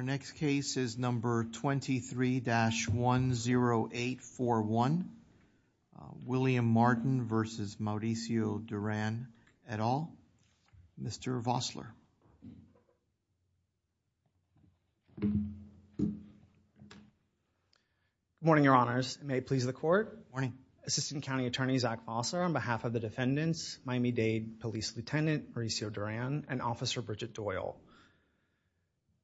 This is number 23-10841 William Martin v. Mauricio Duran et al. Mr. Vossler. Morning your honors. May it please the court. Morning. Assistant County Attorney Zach Vossler on behalf of the defendants, Miami-Dade Police Lieutenant Mauricio Duran and Officer Bridget Doyle.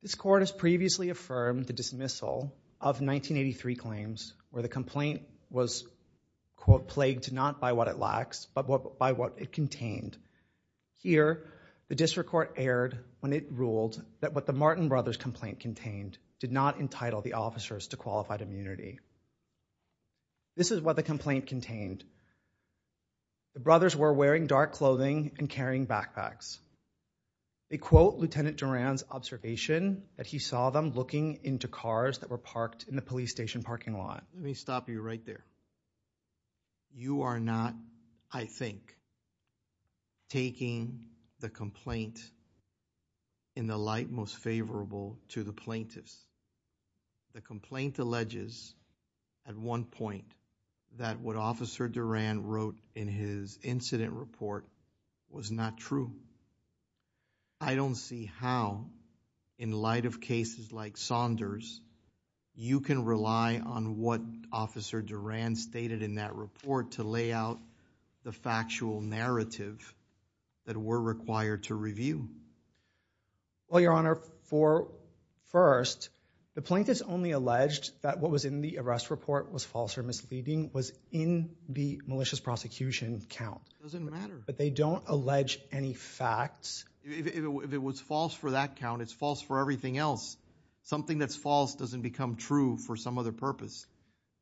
This court has previously affirmed the dismissal of 1983 claims where the complaint was quote plagued not by what it lacks but by what it contained. Here the district court erred when it ruled that what the Martin brothers complaint contained did not entitle the officers to qualified immunity. This is what the complaint contained. The brothers were wearing dark observation that he saw them looking into cars that were parked in the police station parking lot. Let me stop you right there. You are not, I think, taking the complaint in the light most favorable to the plaintiffs. The complaint alleges at one point that what how in light of cases like Saunders you can rely on what Officer Duran stated in that report to lay out the factual narrative that we're required to review. Well your honor for first the plaintiffs only alleged that what was in the arrest report was false or misleading was in the malicious prosecution count. It doesn't matter. But they don't allege any facts. If it was false for that count it's false for everything else. Something that's false doesn't become true for some other purpose.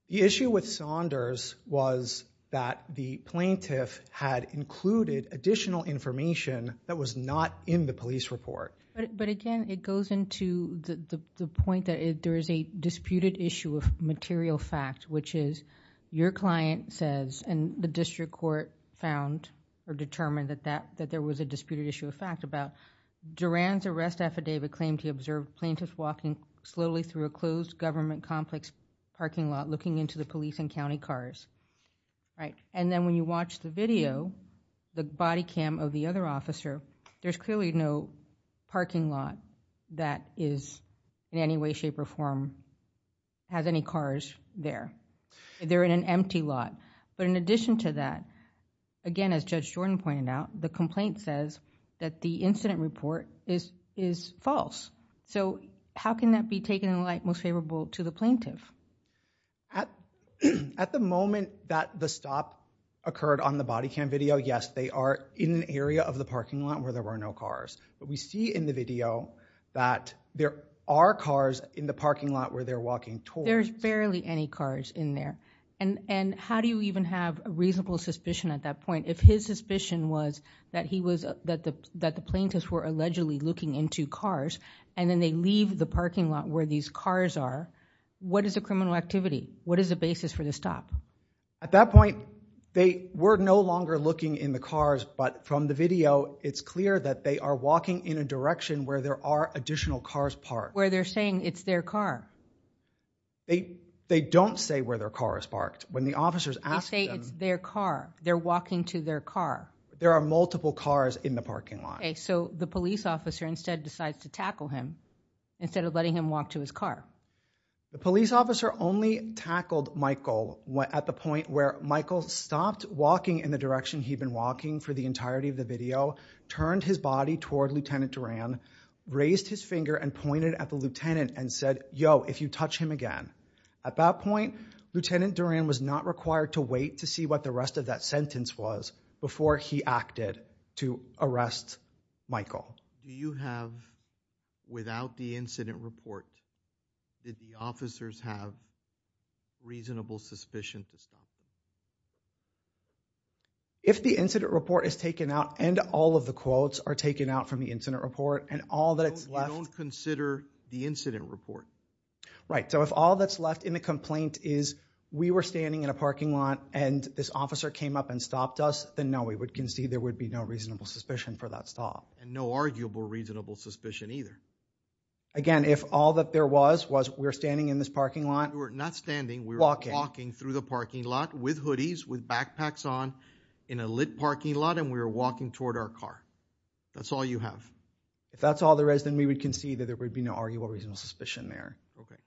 The issue with Saunders was that the plaintiff had included additional information that was not in the police report. But again it goes into the point that there is a disputed issue of material fact which is your client says and the district court found or determined that there was a disputed issue of fact about Duran's arrest affidavit claimed he observed plaintiffs walking slowly through a closed government complex parking lot looking into the police and county cars. And then when you watch the video, the body cam of the other officer, there's clearly no parking lot that is in any way shape or form has any cars there. They're in an empty lot. But in addition to that, again as Judge Jordan pointed out, the complaint says that the incident report is false. So how can that be taken in light most favorable to the plaintiff? At the moment that the stop occurred on the body cam video, yes they are in an area of the parking lot where there were no cars. But we see in the video that there are cars in the parking lot where they're walking towards. There's barely any cars in there. And how do you even have a reasonable suspicion at that point? If his suspicion was that the plaintiffs were allegedly looking into cars and then they leave the parking lot where these cars are, what is the criminal activity? What is the basis for the stop? At that point we're no longer looking in the cars, but from the video it's clear that they are walking in a direction where there are additional cars parked. Where they're saying it's their car. They don't say where their car is parked. When the officers ask them. They say it's their car. They're walking to their car. There are multiple cars in the parking lot. Okay, so the police officer instead decides to tackle him instead of letting him walk to his car. The police officer only tackled Michael at the point where Michael stopped walking in the direction he'd been walking for the entirety of the video. Turned his body toward Lieutenant Duran. Raised his finger and pointed at the lieutenant and said, yo if you touch him again. At that point Lieutenant Duran was not required to wait to see what the rest of that sentence was before he acted to arrest Michael. Do you have, without the incident report, did the officers have reasonable suspicion? If the incident report is taken out and all of the quotes are taken out from the incident report and all that it's left. You don't consider the incident report? Right, so if all that's left in the complaint is we were standing in a parking lot and this officer came up and there would be no reasonable suspicion for that stop. And no arguable reasonable suspicion either? Again, if all that there was was we're standing in this parking lot. We're not standing, we're walking through the parking lot with hoodies, with backpacks on, in a lit parking lot and we were walking toward our car. That's all you have? If that's all there is then we would concede that there would be no arguable reasonable suspicion there. Okay.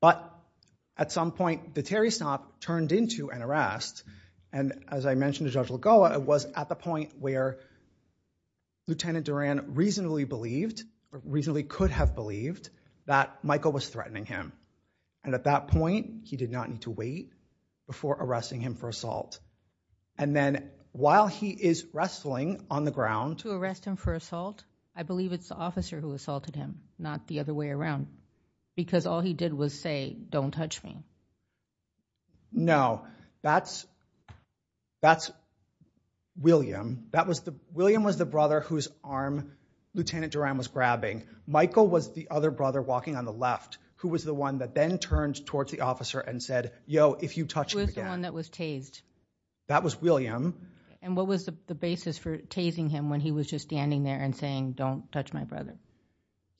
But at some point the Terry stop turned into an arrest and as I mentioned to Judge Lagoa, it was at the point where Lieutenant Duran reasonably believed, reasonably could have believed, that Michael was threatening him. And at that point he did not need to wait before arresting him for assault. And then while he is wrestling on the ground. To arrest him for assault? I believe it's the officer who assaulted him, not the other way around. Because all he did was say, don't touch me. No, that's William. William was the brother whose arm Lieutenant Duran was grabbing. Michael was the other brother walking on the left, who was the one that then turned towards the officer and said, yo, if you touch him again. Who was the one that was tased? That was William. And what was the basis for tasing him when he was just standing there and saying, don't touch my brother?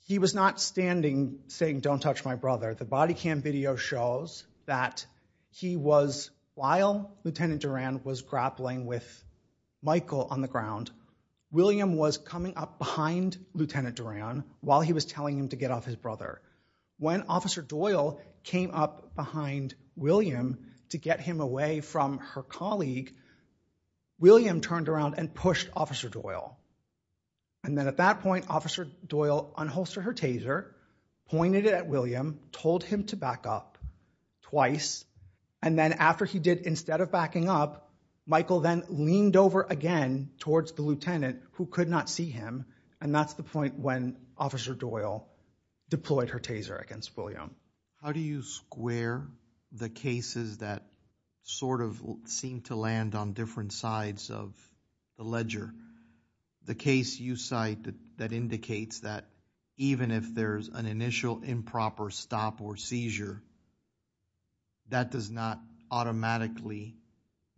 He was not standing saying, don't touch my brother. The body cam video shows that he was, while Lieutenant Duran was grappling with Michael on the ground, William was coming up behind Lieutenant Duran while he was telling him to get off his brother. When Officer Doyle came up behind William to get him away from her colleague, William turned around and pushed Officer Doyle. And then at that point, Officer Doyle unholstered her taser, pointed it at William, told him to back up twice. And then after he did, instead of backing up, Michael then leaned over again towards the lieutenant, who could not see him. And that's the point when Officer Doyle deployed her taser against William. How do you square the cases that sort of seemed to land on different sides of the case you cite that indicates that even if there's an initial improper stop or seizure, that does not automatically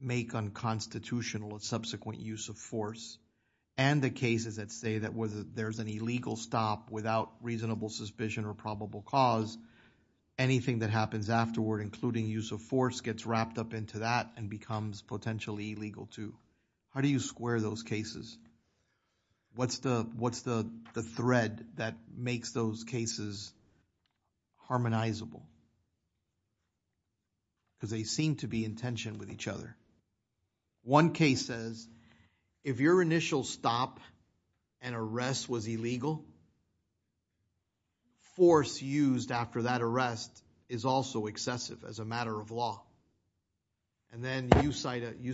make unconstitutional a subsequent use of force? And the cases that say that whether there's an illegal stop without reasonable suspicion or probable cause, anything that happens afterward, including use of force, gets wrapped up into that and becomes potentially illegal too. How do you square those cases? What's the thread that makes those cases harmonizable? Because they seem to be in tension with each other. One case says, if your initial stop and arrest was illegal, force used after that arrest is also excessive as a matter of law. And then you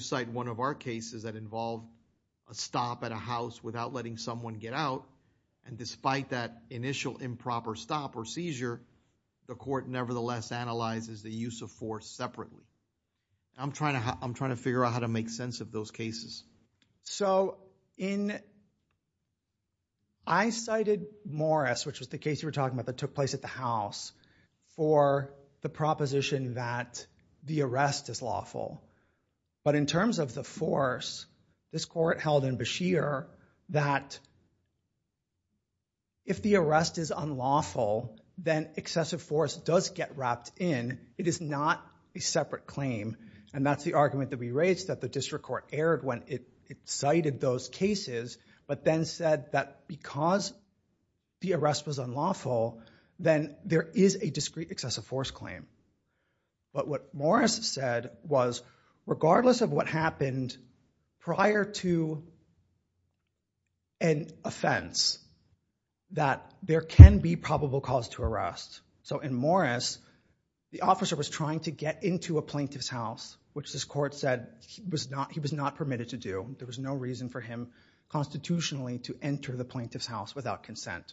cite one of our cases that involved a stop at a house without letting someone get out. And despite that initial improper stop or seizure, the court nevertheless analyzes the use of force separately. I'm trying to figure out how to make sense of those cases. So I cited Morris, which was the case you were talking about that took place at the house, for the proposition that the arrest is lawful. But in terms of the force, this court held in Beshear that if the arrest is unlawful, then excessive force does get wrapped in. It is not a separate claim. And that's the argument that we raised that the district court aired when it cited those cases, but then said that because the arrest was unlawful, then there is a discrete excessive force claim. But what Morris said was, regardless of what happened prior to an offense, that there can be probable cause to arrest. So in Morris, the officer was trying to get into a plaintiff's house, which this court said he was not permitted to do. There was no reason for him constitutionally to enter the plaintiff's house without consent.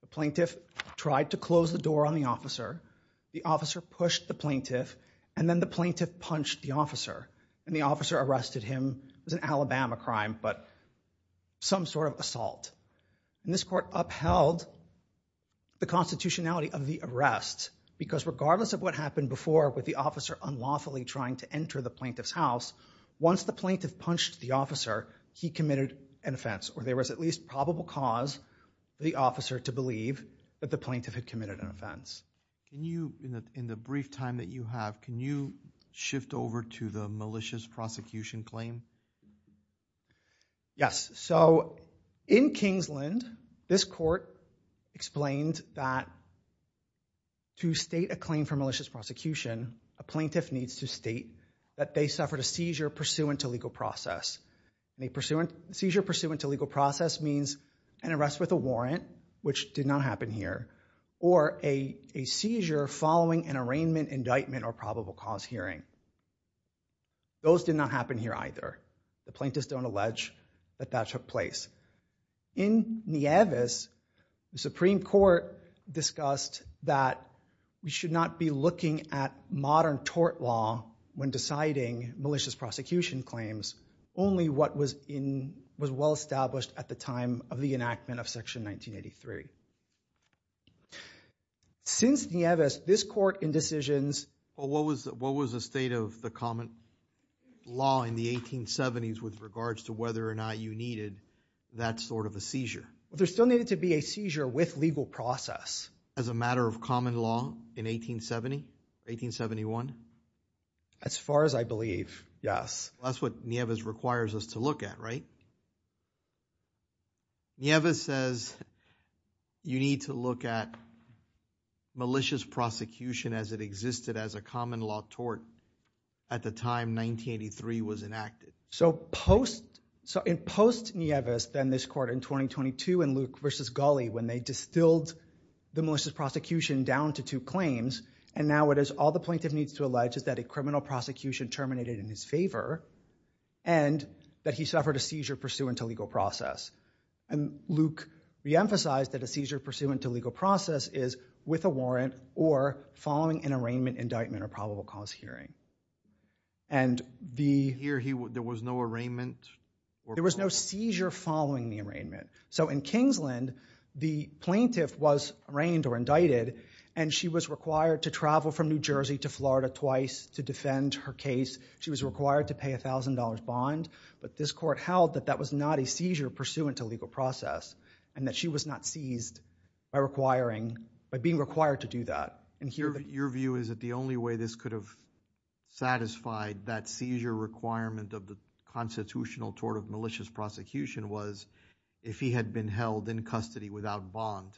The plaintiff tried to close the door on the officer. The officer pushed the plaintiff. And then the plaintiff punched the And this court upheld the constitutionality of the arrest, because regardless of what happened before with the officer unlawfully trying to enter the plaintiff's house, once the plaintiff punched the officer, he committed an offense. Or there was at least probable cause for the officer to believe that the plaintiff had committed an offense. Can you, in the brief time that you have, can you shift over to the malicious prosecution claim? Yes. So in Kingsland, this court explained that to state a claim for malicious prosecution, a plaintiff needs to state that they suffered a seizure pursuant to legal process. Seizure pursuant to legal process means an arrest with a warrant, which did not happen here, or a seizure following an arraignment, indictment, or probable cause hearing. Those did not happen here either. The plaintiffs don't allege that that took place. In Nieves, the Supreme Court discussed that we should not be looking at modern tort law when deciding malicious prosecution claims, only what was well-established at the time of the enactment of Section 1983. Since Nieves, this court in decisions- But what was the state of the common law in the 1870s with regards to whether or not you needed that sort of a seizure? There still needed to be a seizure with legal process. As a matter of common law in 1870, 1871? As far as I believe, yes. That's what Nieves requires us to look at, right? Yes. Nieves says you need to look at malicious prosecution as it existed as a common law tort at the time 1983 was enacted. So post Nieves, then this court in 2022 in Luke versus Gulley, when they distilled the malicious prosecution down to two claims, and now it is all the plaintiff needs to allege that a criminal prosecution terminated in his favor and that he suffered a seizure pursuant to legal process. And Luke re-emphasized that a seizure pursuant to legal process is with a warrant or following an arraignment, indictment, or probable cause hearing. And the- Here, there was no arraignment? There was no seizure following the arraignment. So in Kingsland, the plaintiff was arraigned or indicted, and she was required to travel from New Jersey to Florida twice to defend her case. She was required to pay a $1,000 bond, but this court held that that was not a seizure pursuant to legal process and that she was not seized by requiring, by being required to do that. And your view is that the only way this could have satisfied that seizure requirement of the constitutional tort of malicious prosecution was if he had been held in custody without bond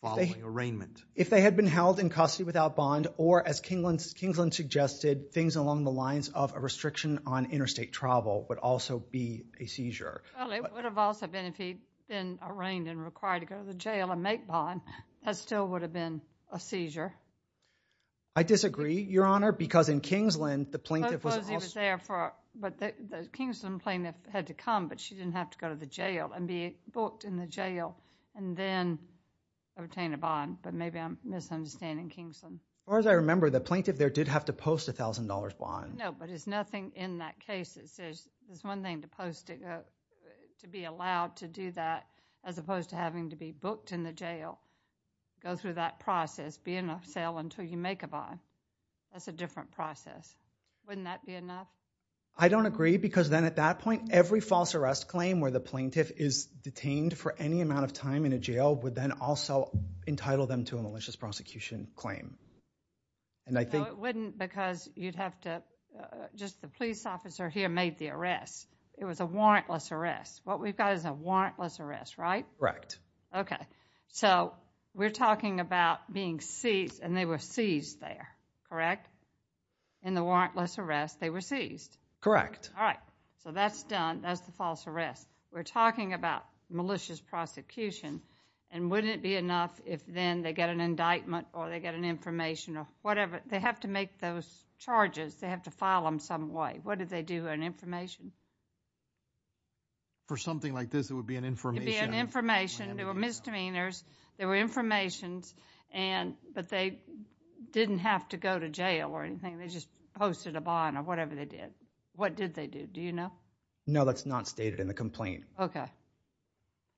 following arraignment? If they had been held in custody without bond or, as Kingsland suggested, things along the lines of a restriction on interstate travel would also be a seizure. Well, it would have also been if he'd been arraigned and required to go to the jail and make bond. That still would have been a seizure. I disagree, Your Honor, because in Kingsland, the plaintiff was also- Suppose he was there for, but the Kingsland plaintiff had to come, but she didn't have to go to the jail and be booked in the jail and then obtain a bond. But maybe I'm misunderstanding Kingsland. As far as I remember, the plaintiff there did have to post a $1,000 bond. No, but there's nothing in that case that says there's one thing to post to be allowed to do that as opposed to having to be booked in the jail, go through that process, be in a cell until you make a bond. That's a different process. Wouldn't that be enough? I don't agree because then at that point, every false arrest claim where the plaintiff is detained for any amount of time in a jail would then also entitle them to a malicious prosecution claim. No, it wouldn't because you'd have to- just the police officer here made the arrest. It was a warrantless arrest. What we've got is a warrantless arrest, right? Correct. Okay. So, we're talking about being seized and they were seized there, correct? In the warrantless arrest, they were seized? Correct. All right. So, that's done. That's the false arrest. We're talking about malicious prosecution and wouldn't it be enough if then they get an indictment or they get an information or whatever? They have to make those charges. They have to file them some way. An information? For something like this, it would be an information. It would be an information. There were misdemeanors. There were informations but they didn't have to go to jail or anything. They just posted a bond or whatever they did. What did they do? Do you know? No, that's not stated in the complaint. Okay.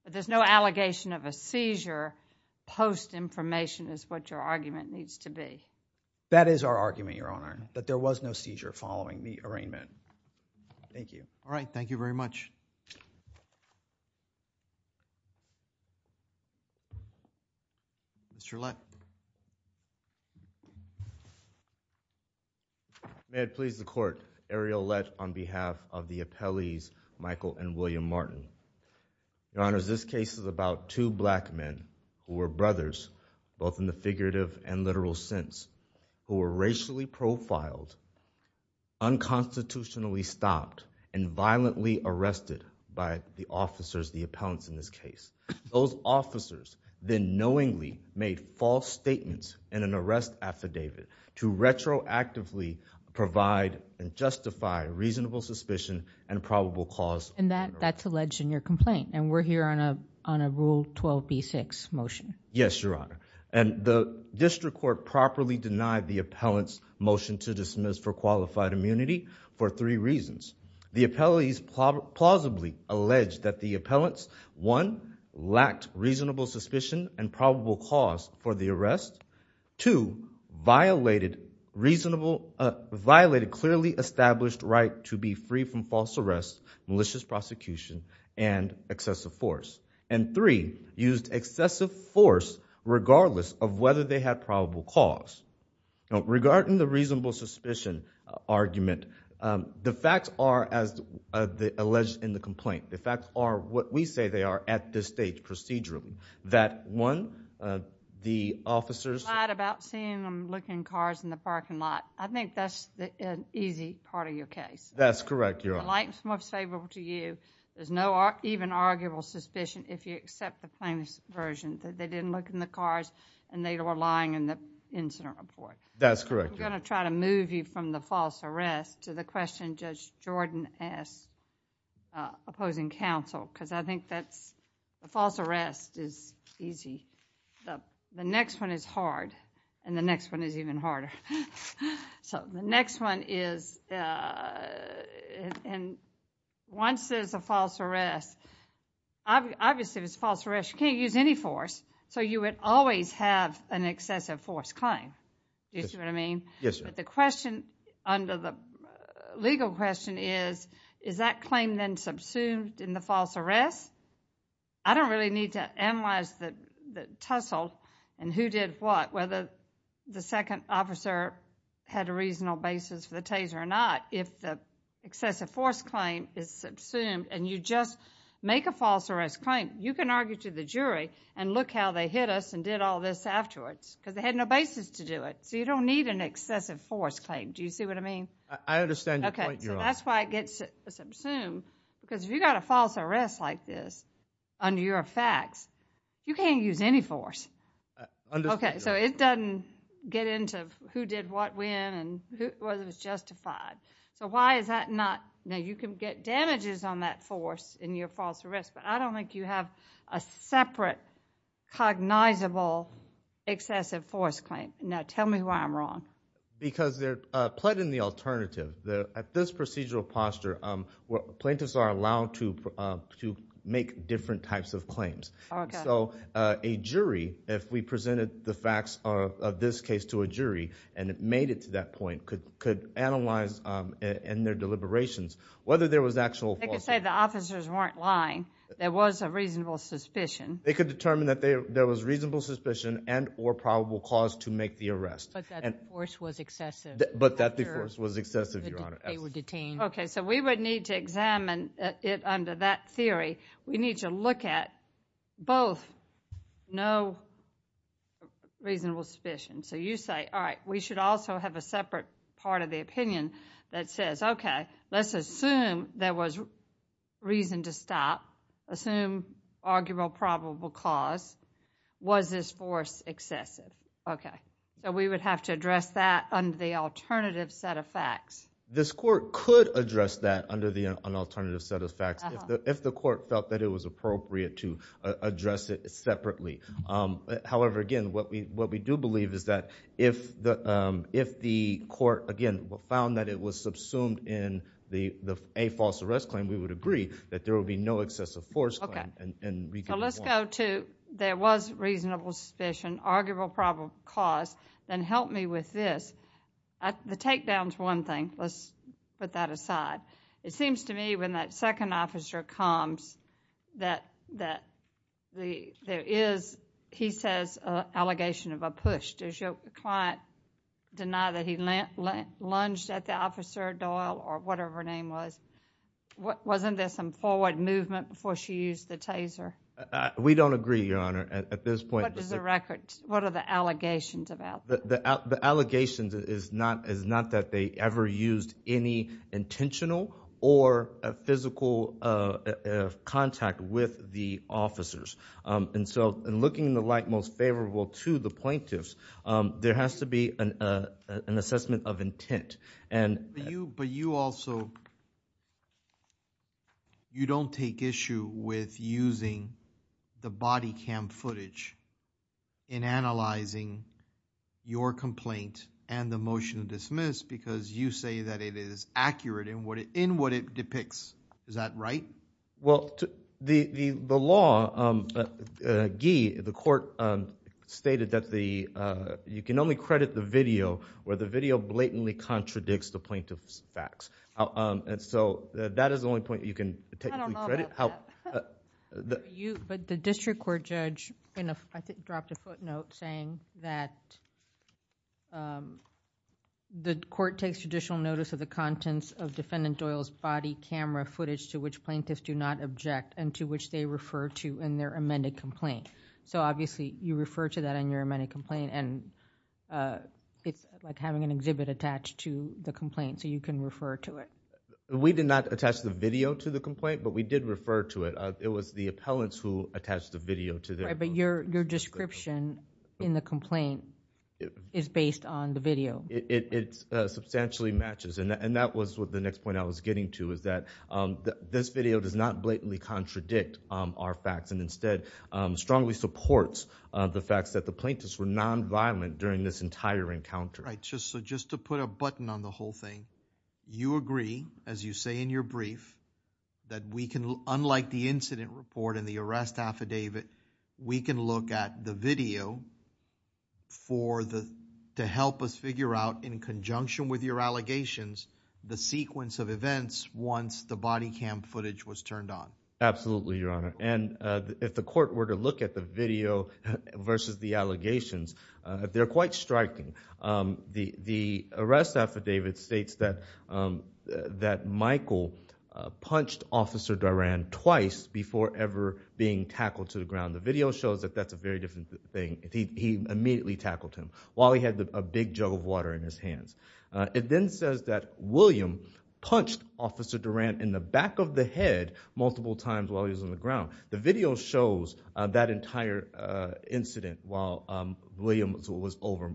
But there's no allegation of a seizure post-information is what your argument needs to be? That is our argument, Your Honor, that there was no seizure following the arraignment. Thank you. All right. Thank you very much. Mr. Lett. May it please the court. Ariel Lett on behalf of the appellees, Michael and William Martin. Your Honor, this case is about two black men who were brothers, both in the figurative and literal sense, who were racially profiled, unconstitutionally stopped and violently arrested by the officers, the appellants in this case. Those officers then knowingly made false statements in an arrest affidavit to retroactively provide and justify reasonable suspicion and probable cause. And that's alleged in your complaint. And we're here on a rule 12b6 motion. Yes, Your Honor. And the district court properly denied the appellant's motion to dismiss for qualified immunity for three reasons. The appellees plausibly alleged that the appellants, one, lacked reasonable suspicion and probable cause for the arrest. Two, violated clearly established right to be free from false arrests, malicious prosecution and excessive force. And three, used excessive force regardless of whether they had probable cause. Regarding the reasonable suspicion argument, the facts are, as alleged in the complaint, the facts are what we say they are at this stage procedurally. That one, the officers- Lied about seeing them looking at cars in the parking lot. I think that's an easy part of your case. That's correct, Your Honor. The light is most favorable to you. There's no even arguable suspicion if you accept the plaintiff's version that they didn't look in the cars and they were lying in the incident report. That's correct, Your Honor. We're going to try to move you from the false arrest to the question Judge Jordan asked, opposing counsel, because I think that's, a false arrest is easy. The next one is hard and the next one is even harder. So the next one is, and once there's a false arrest, obviously if it's a false arrest, you can't use any force. So you would always have an excessive force claim. Do you see what I mean? Yes, Your Honor. But the question under the legal question is, is that claim then subsumed in the false arrest? I don't really need to analyze the tussle and who did what, whether the second officer had a reasonable basis for the taser or not. If the excessive force claim is subsumed and you just make a false arrest claim, you can argue to the jury and look how they hit us and did all this afterwards, because they had no basis to do it. So you don't need an excessive force claim. Do you see what I mean? I understand your point, Your Honor. That's why it gets subsumed, because if you got a false arrest like this under your facts, you can't use any force. Okay, so it doesn't get into who did what when and whether it was justified. So why is that not? Now you can get damages on that force in your false arrest, but I don't think you have a separate cognizable excessive force claim. Now tell me why I'm wrong. Because they're plotting the alternative. At this procedural posture, plaintiffs are allowed to make different types of claims. So a jury, if we presented the facts of this case to a jury and it made it to that point, could analyze in their deliberations whether there was actual false arrest. They could say the officers weren't lying. There was a reasonable suspicion. They could determine that there was reasonable suspicion and or probable cause to make the arrest. But that the force was excessive. But that the force was excessive, Your Honor. They were detained. Okay, so we would need to examine it under that theory. We need to look at both no reasonable suspicion. So you say, all right, we should also have a separate part of the opinion that says, okay, let's assume there was reason to stop. Assume arguable probable cause. Was this force excessive? Okay, so we would have to address that under the alternative set of facts. This court could address that under the alternative set of facts if the court felt that it was appropriate to address it separately. However, again, what we do believe is that if the court, again, found that it was subsumed in a false arrest claim, we would agree that there would be no excessive force claim. Okay, so let's go to there was reasonable suspicion, arguable probable cause, then help me with this. The takedown's one thing. Let's put that aside. It seems to me when that second officer comes that there is, he says, an allegation of a push. Does your client deny that he lunged at the officer, Doyle, or whatever her name was? Wasn't there some forward movement before she used the taser? We don't agree, Your Honor, at this point. What is the record? What are the allegations about? The allegations is not that they ever used any intentional or physical contact with the officers. In looking in the light most favorable to the plaintiffs, there has to be an assessment of intent. But you also, you don't take issue with using the body cam footage in analyzing your complaint and the motion to dismiss because you say that it is accurate in what it depicts. Is that right? Well, the law, Guy, the court stated that you can only credit the video where the video blatantly contradicts the plaintiff's facts. That is the only point you can technically credit. I don't know about that. But the district court judge dropped a footnote saying that the court takes judicial notice of the contents of defendant Doyle's body camera footage to which plaintiffs do not object and to which they refer to in their amended complaint. Obviously, you refer to that in your amended complaint and it's like having an exhibit attached to the complaint so you can refer to it. We did not attach the video to the complaint, but we did refer to it. It was the appellants who attached the video to it. But your description in the complaint is based on the video. It substantially matches and that was what the next point I was getting to is that this video does not blatantly contradict our facts and instead strongly supports the fact that the plaintiffs were non-violent during this entire encounter. Right, so just to put a button on the whole thing, you agree, as you say in your brief, that we can, unlike the incident report and the arrest affidavit, we can look at the video to help us figure out, in conjunction with your allegations, the sequence of events once the body cam footage was turned on? Absolutely, Your Honor. And if the court were to look at the video versus the allegations, they're quite striking. The arrest affidavit states that Michael punched Officer Duran twice before ever being tackled to the ground. The video shows that that's a very different thing. He immediately tackled him while he had a big jug of water in his hands. It then says that William punched Officer Duran in the back of the head multiple times while he was on the ground. The video shows that entire incident while William was over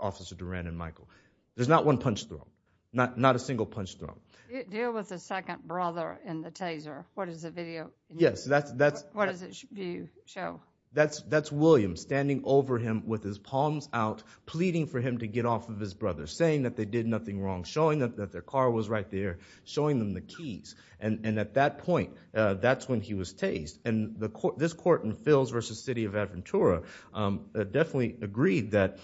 Officer Duran and Michael. There's not one punch thrown, not a single punch thrown. Deal with the second brother in the taser. What is the video? Yes, that's... What does it show? That's William standing over him with his palms out, pleading for him to get off of his brother, saying that they did nothing wrong, showing that their car was right there, showing them the keys. And at that point, that's when he was tased. And this court in Fills versus City of Aventura definitely agreed that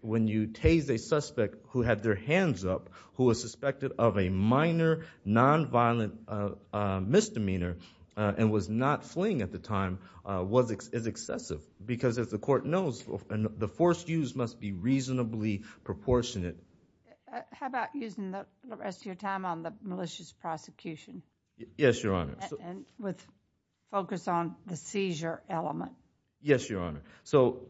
when you tase a suspect who had their hands up, who was suspected of a minor nonviolent misdemeanor and was not fleeing at the time, was excessive. Because as the court knows, the forced use must be reasonably proportionate. How about using the rest of your time on the malicious prosecution? Yes, Your Honor. And with focus on the seizure element. Yes, Your Honor. So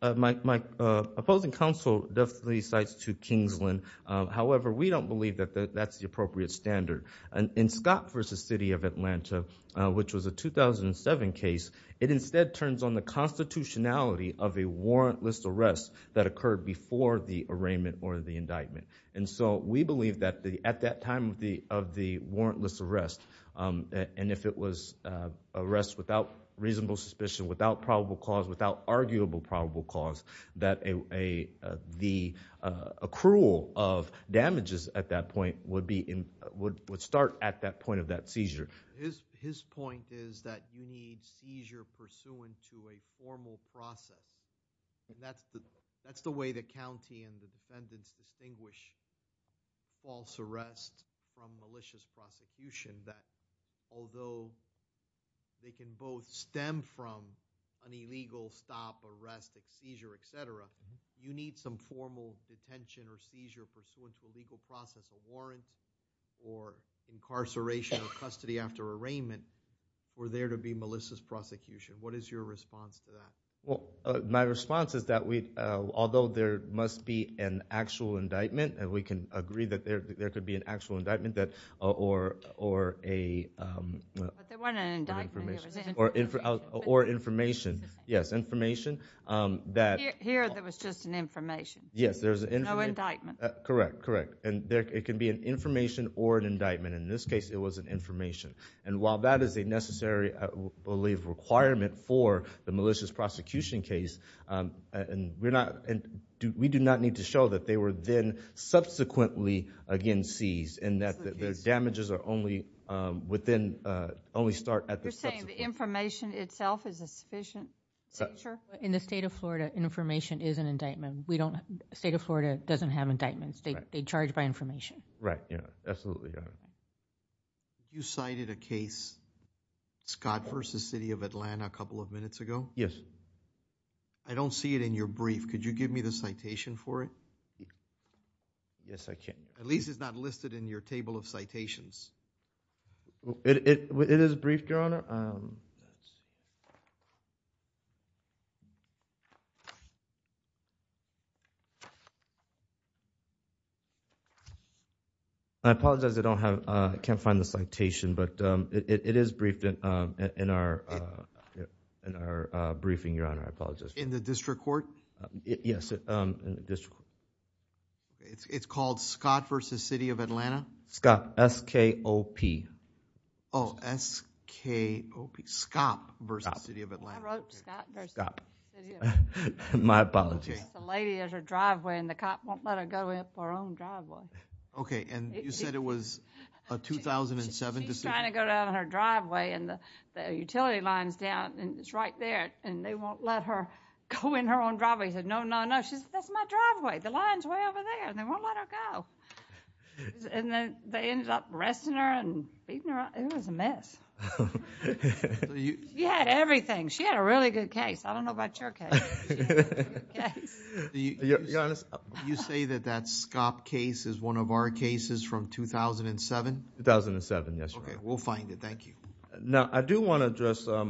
my opposing counsel definitely cites to Kingsland. However, we don't believe that that's the appropriate standard. And in Scott versus City of Atlanta, which was a 2007 case, it instead turns on the constitutionality of a warrantless arrest that occurred before the arraignment or the indictment. And so we believe that at that time of the warrantless arrest, and if it was arrest without reasonable suspicion, without probable cause, without arguable probable cause, that the accrual of damages at that point would start at that point of that seizure. His point is that you need seizure pursuant to a formal process. And that's the way the county and the defendants distinguish false arrest from malicious prosecution, that although they can both stem from an illegal stop, arrest, seizure, etc., you need some formal detention or seizure pursuant to legal process, warrant or incarceration or custody after arraignment for there to be malicious prosecution. What is your response to that? Well, my response is that we, although there must be an actual indictment, and we can agree that there could be an actual indictment that, or a... But there wasn't an indictment. Or information, yes, information that... Here, there was just an information. Yes, there was an information. No indictment. Correct, correct. And it can be an information or an indictment. In this case, it was an information. And while that is a necessary, I believe, requirement for the malicious prosecution case, we do not need to show that they were then subsequently, again, seized, and that the damages are only within, only start at the subsequent... You're saying the information itself is a sufficient seizure? In the state of Florida, information is an indictment. State of Florida doesn't have indictments. They charge by information. Right, yeah, absolutely. You cited a case, Scott versus City of Atlanta, a couple of minutes ago? Yes. I don't see it in your brief. Could you give me the citation for it? Yes, I can. At least it's not listed in your table of citations. It is brief, Your Honor. I apologize. I can't find the citation, but it is briefed in our briefing, Your Honor. I apologize. In the district court? Yes, in the district court. It's called Scott versus City of Atlanta? Scott, S-K-O-P. Oh, S-K-O-P, Scott versus City of Atlanta. I wrote Scott versus City of Atlanta. My apologies. The lady at her driveway, and the cop won't let her go in her own driveway. Okay, and you said it was a 2007 decision? She's trying to go down her driveway, and the utility line's down, and it's right there, and they won't let her go in her own driveway. He said, no, no, no. She said, that's my driveway. The line's way over there, and they won't let her go. And then they ended up arresting her and beating her up. It was a mess. You had everything. She had a really good case. I don't know about your case. Do you say that that Scott case is one of our cases from 2007? 2007, yes. Okay, we'll find it. Thank you. Now, I do want to address a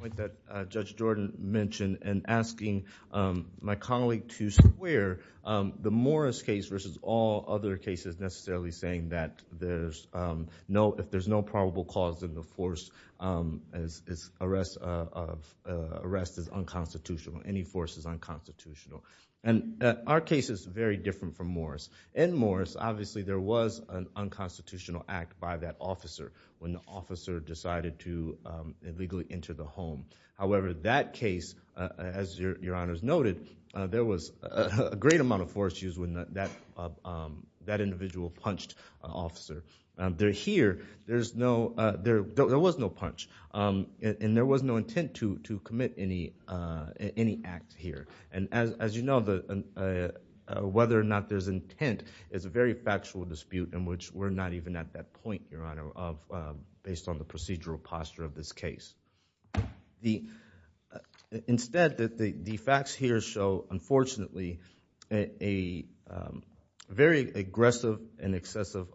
point that Judge Jordan mentioned in asking my colleague to square the Morris case versus all other cases necessarily saying that if there's no probable cause in the force, arrest is unconstitutional, any force is unconstitutional. And our case is very different from Morris. In Morris, obviously, there was an unconstitutional act by that officer when the officer decided to illegally enter the home. However, that case, as your honors noted, there was a great amount of force used when that individual punched an officer. There here, there was no punch, and there was no intent to commit any act here. And as you know, whether or not there's intent is a very factual dispute in which we're not even at that point, your honor, based on the procedural posture of this case. The, instead, the facts here show, unfortunately, a very aggressive and excessive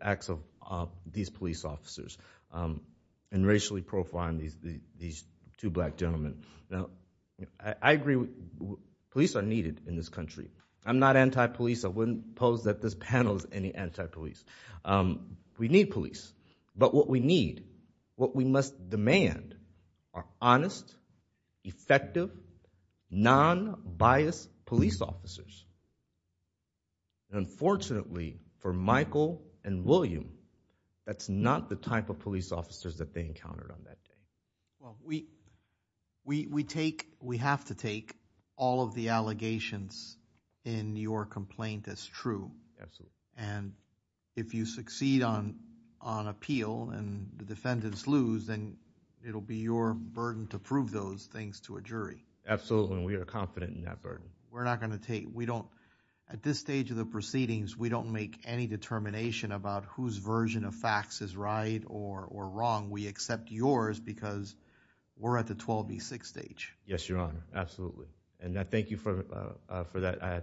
acts of these police officers and racially profiling these two black gentlemen. Now, I agree, police are needed in this country. I'm not anti-police. I wouldn't pose that this panel is any anti-police. We need police. But what we need, what we must demand are honest, effective, non-biased police officers. Unfortunately, for Michael and William, that's not the type of police officers that they encountered on that day. Well, we, we take, we have to take all of the allegations in your complaint as true. Absolutely. And if you succeed on, on appeal, and the defendants lose, then it'll be your burden to prove those things to a jury. Absolutely. We are confident in that burden. We're not going to take, we don't, at this stage of the proceedings, we don't make any determination about whose version of facts is right or, or wrong. We accept yours because we're at the 12B6 stage. Yes, your honor. Absolutely. And I thank you for, for that. I, I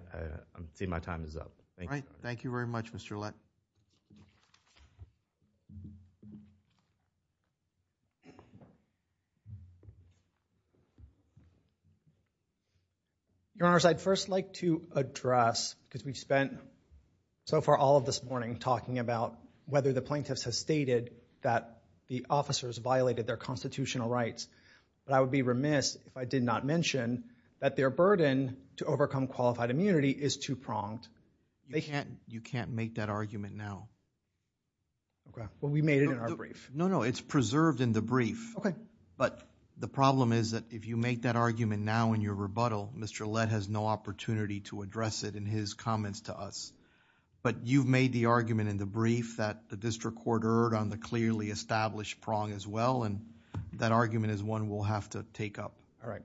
see my time is up. Thank you. Thank you very much, Mr. Lett. Your honors, I'd first like to address, because we've spent so far all of this morning talking about whether the plaintiffs have stated that the officers violated their constitutional rights. But I would be remiss if I did not mention that their burden to overcome qualified immunity is too pronged. They can't, you can't make that argument now. Okay. Well, we made it in our brief. No, no. It's preserved in the brief. Okay. But the problem is that if you make that argument now in your rebuttal, Mr. Lett has no opportunity to address it in his comments to us. But you've made the argument in the brief that the district court erred on the clearly established prong as well. And that argument is one we'll have to take up. All right.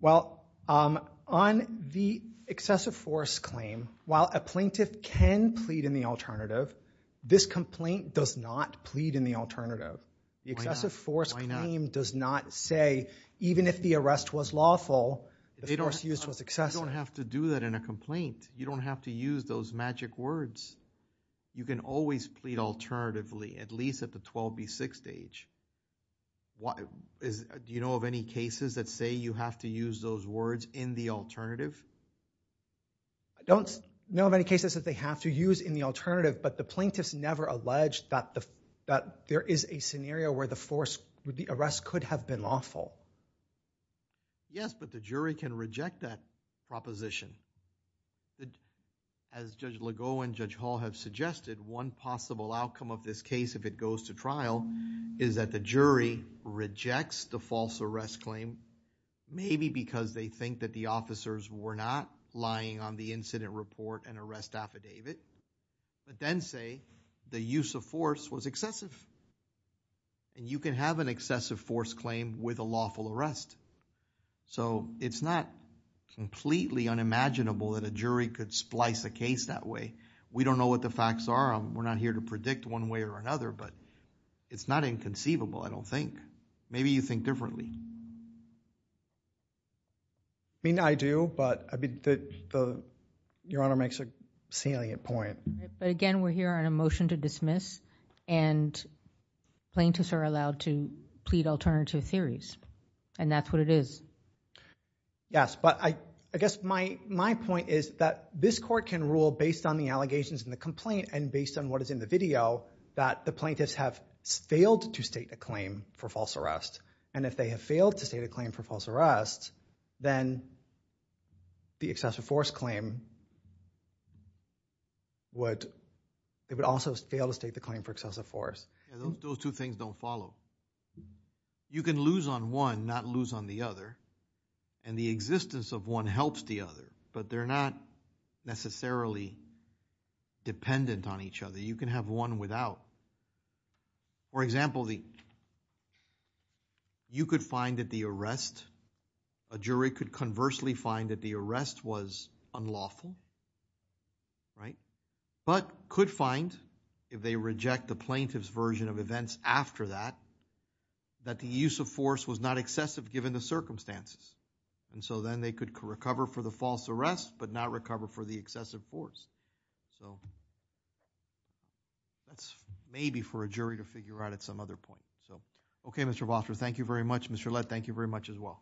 Well, on the excessive force claim, while a plaintiff can plead in the alternative, this complaint does not plead in the alternative. The excessive force claim does not say, even if the arrest was lawful, the force used was excessive. You don't have to do that in a complaint. You don't have to use those magic words. You can always plead alternatively, at least at the 12B6 stage. Do you know of any cases that say you have to use those words in the alternative? I don't know of any cases that they have to use in the alternative, but the plaintiffs never alleged that there is a scenario where the arrest could have been lawful. Yes, but the jury can reject that proposition. As Judge Legault and Judge Hall have suggested, one possible outcome of this case, if it goes to trial, is that the jury rejects the false arrest claim, maybe because they think that the officers were not lying on the incident report and arrest affidavit, but then say the use of force was excessive. And you can have an excessive force claim with a lawful arrest. So, it's not completely unimaginable that a jury could splice a case that way. We don't know what the facts are. We're not here to predict one way or another, but it's not inconceivable, I don't think. Maybe you think differently. I mean, I do, but Your Honor makes a salient point. But again, we're here on a motion to dismiss and plaintiffs are allowed to plead alternative theories, and that's what it is. Yes, but I guess my point is that this court can rule based on the allegations in the complaint and based on what is in the video, that the plaintiffs have failed to state a claim for false arrest. And if they have failed to state a claim for false arrest, then the excessive force claim would, it would also fail to state the claim for excessive force. Those two things don't follow. You can lose on one, not lose on the other. And the existence of one helps the other, but they're not necessarily dependent on each other. You can have one without. For example, you could find that the arrest, a jury could conversely find that the arrest was unlawful, right? But could find, if they reject the plaintiff's version of events after that, that the use of circumstances, and so then they could recover for the false arrest, but not recover for the excessive force. So that's maybe for a jury to figure out at some other point. So, okay, Mr. Vosper, thank you very much. Mr. Lead, thank you very much as well.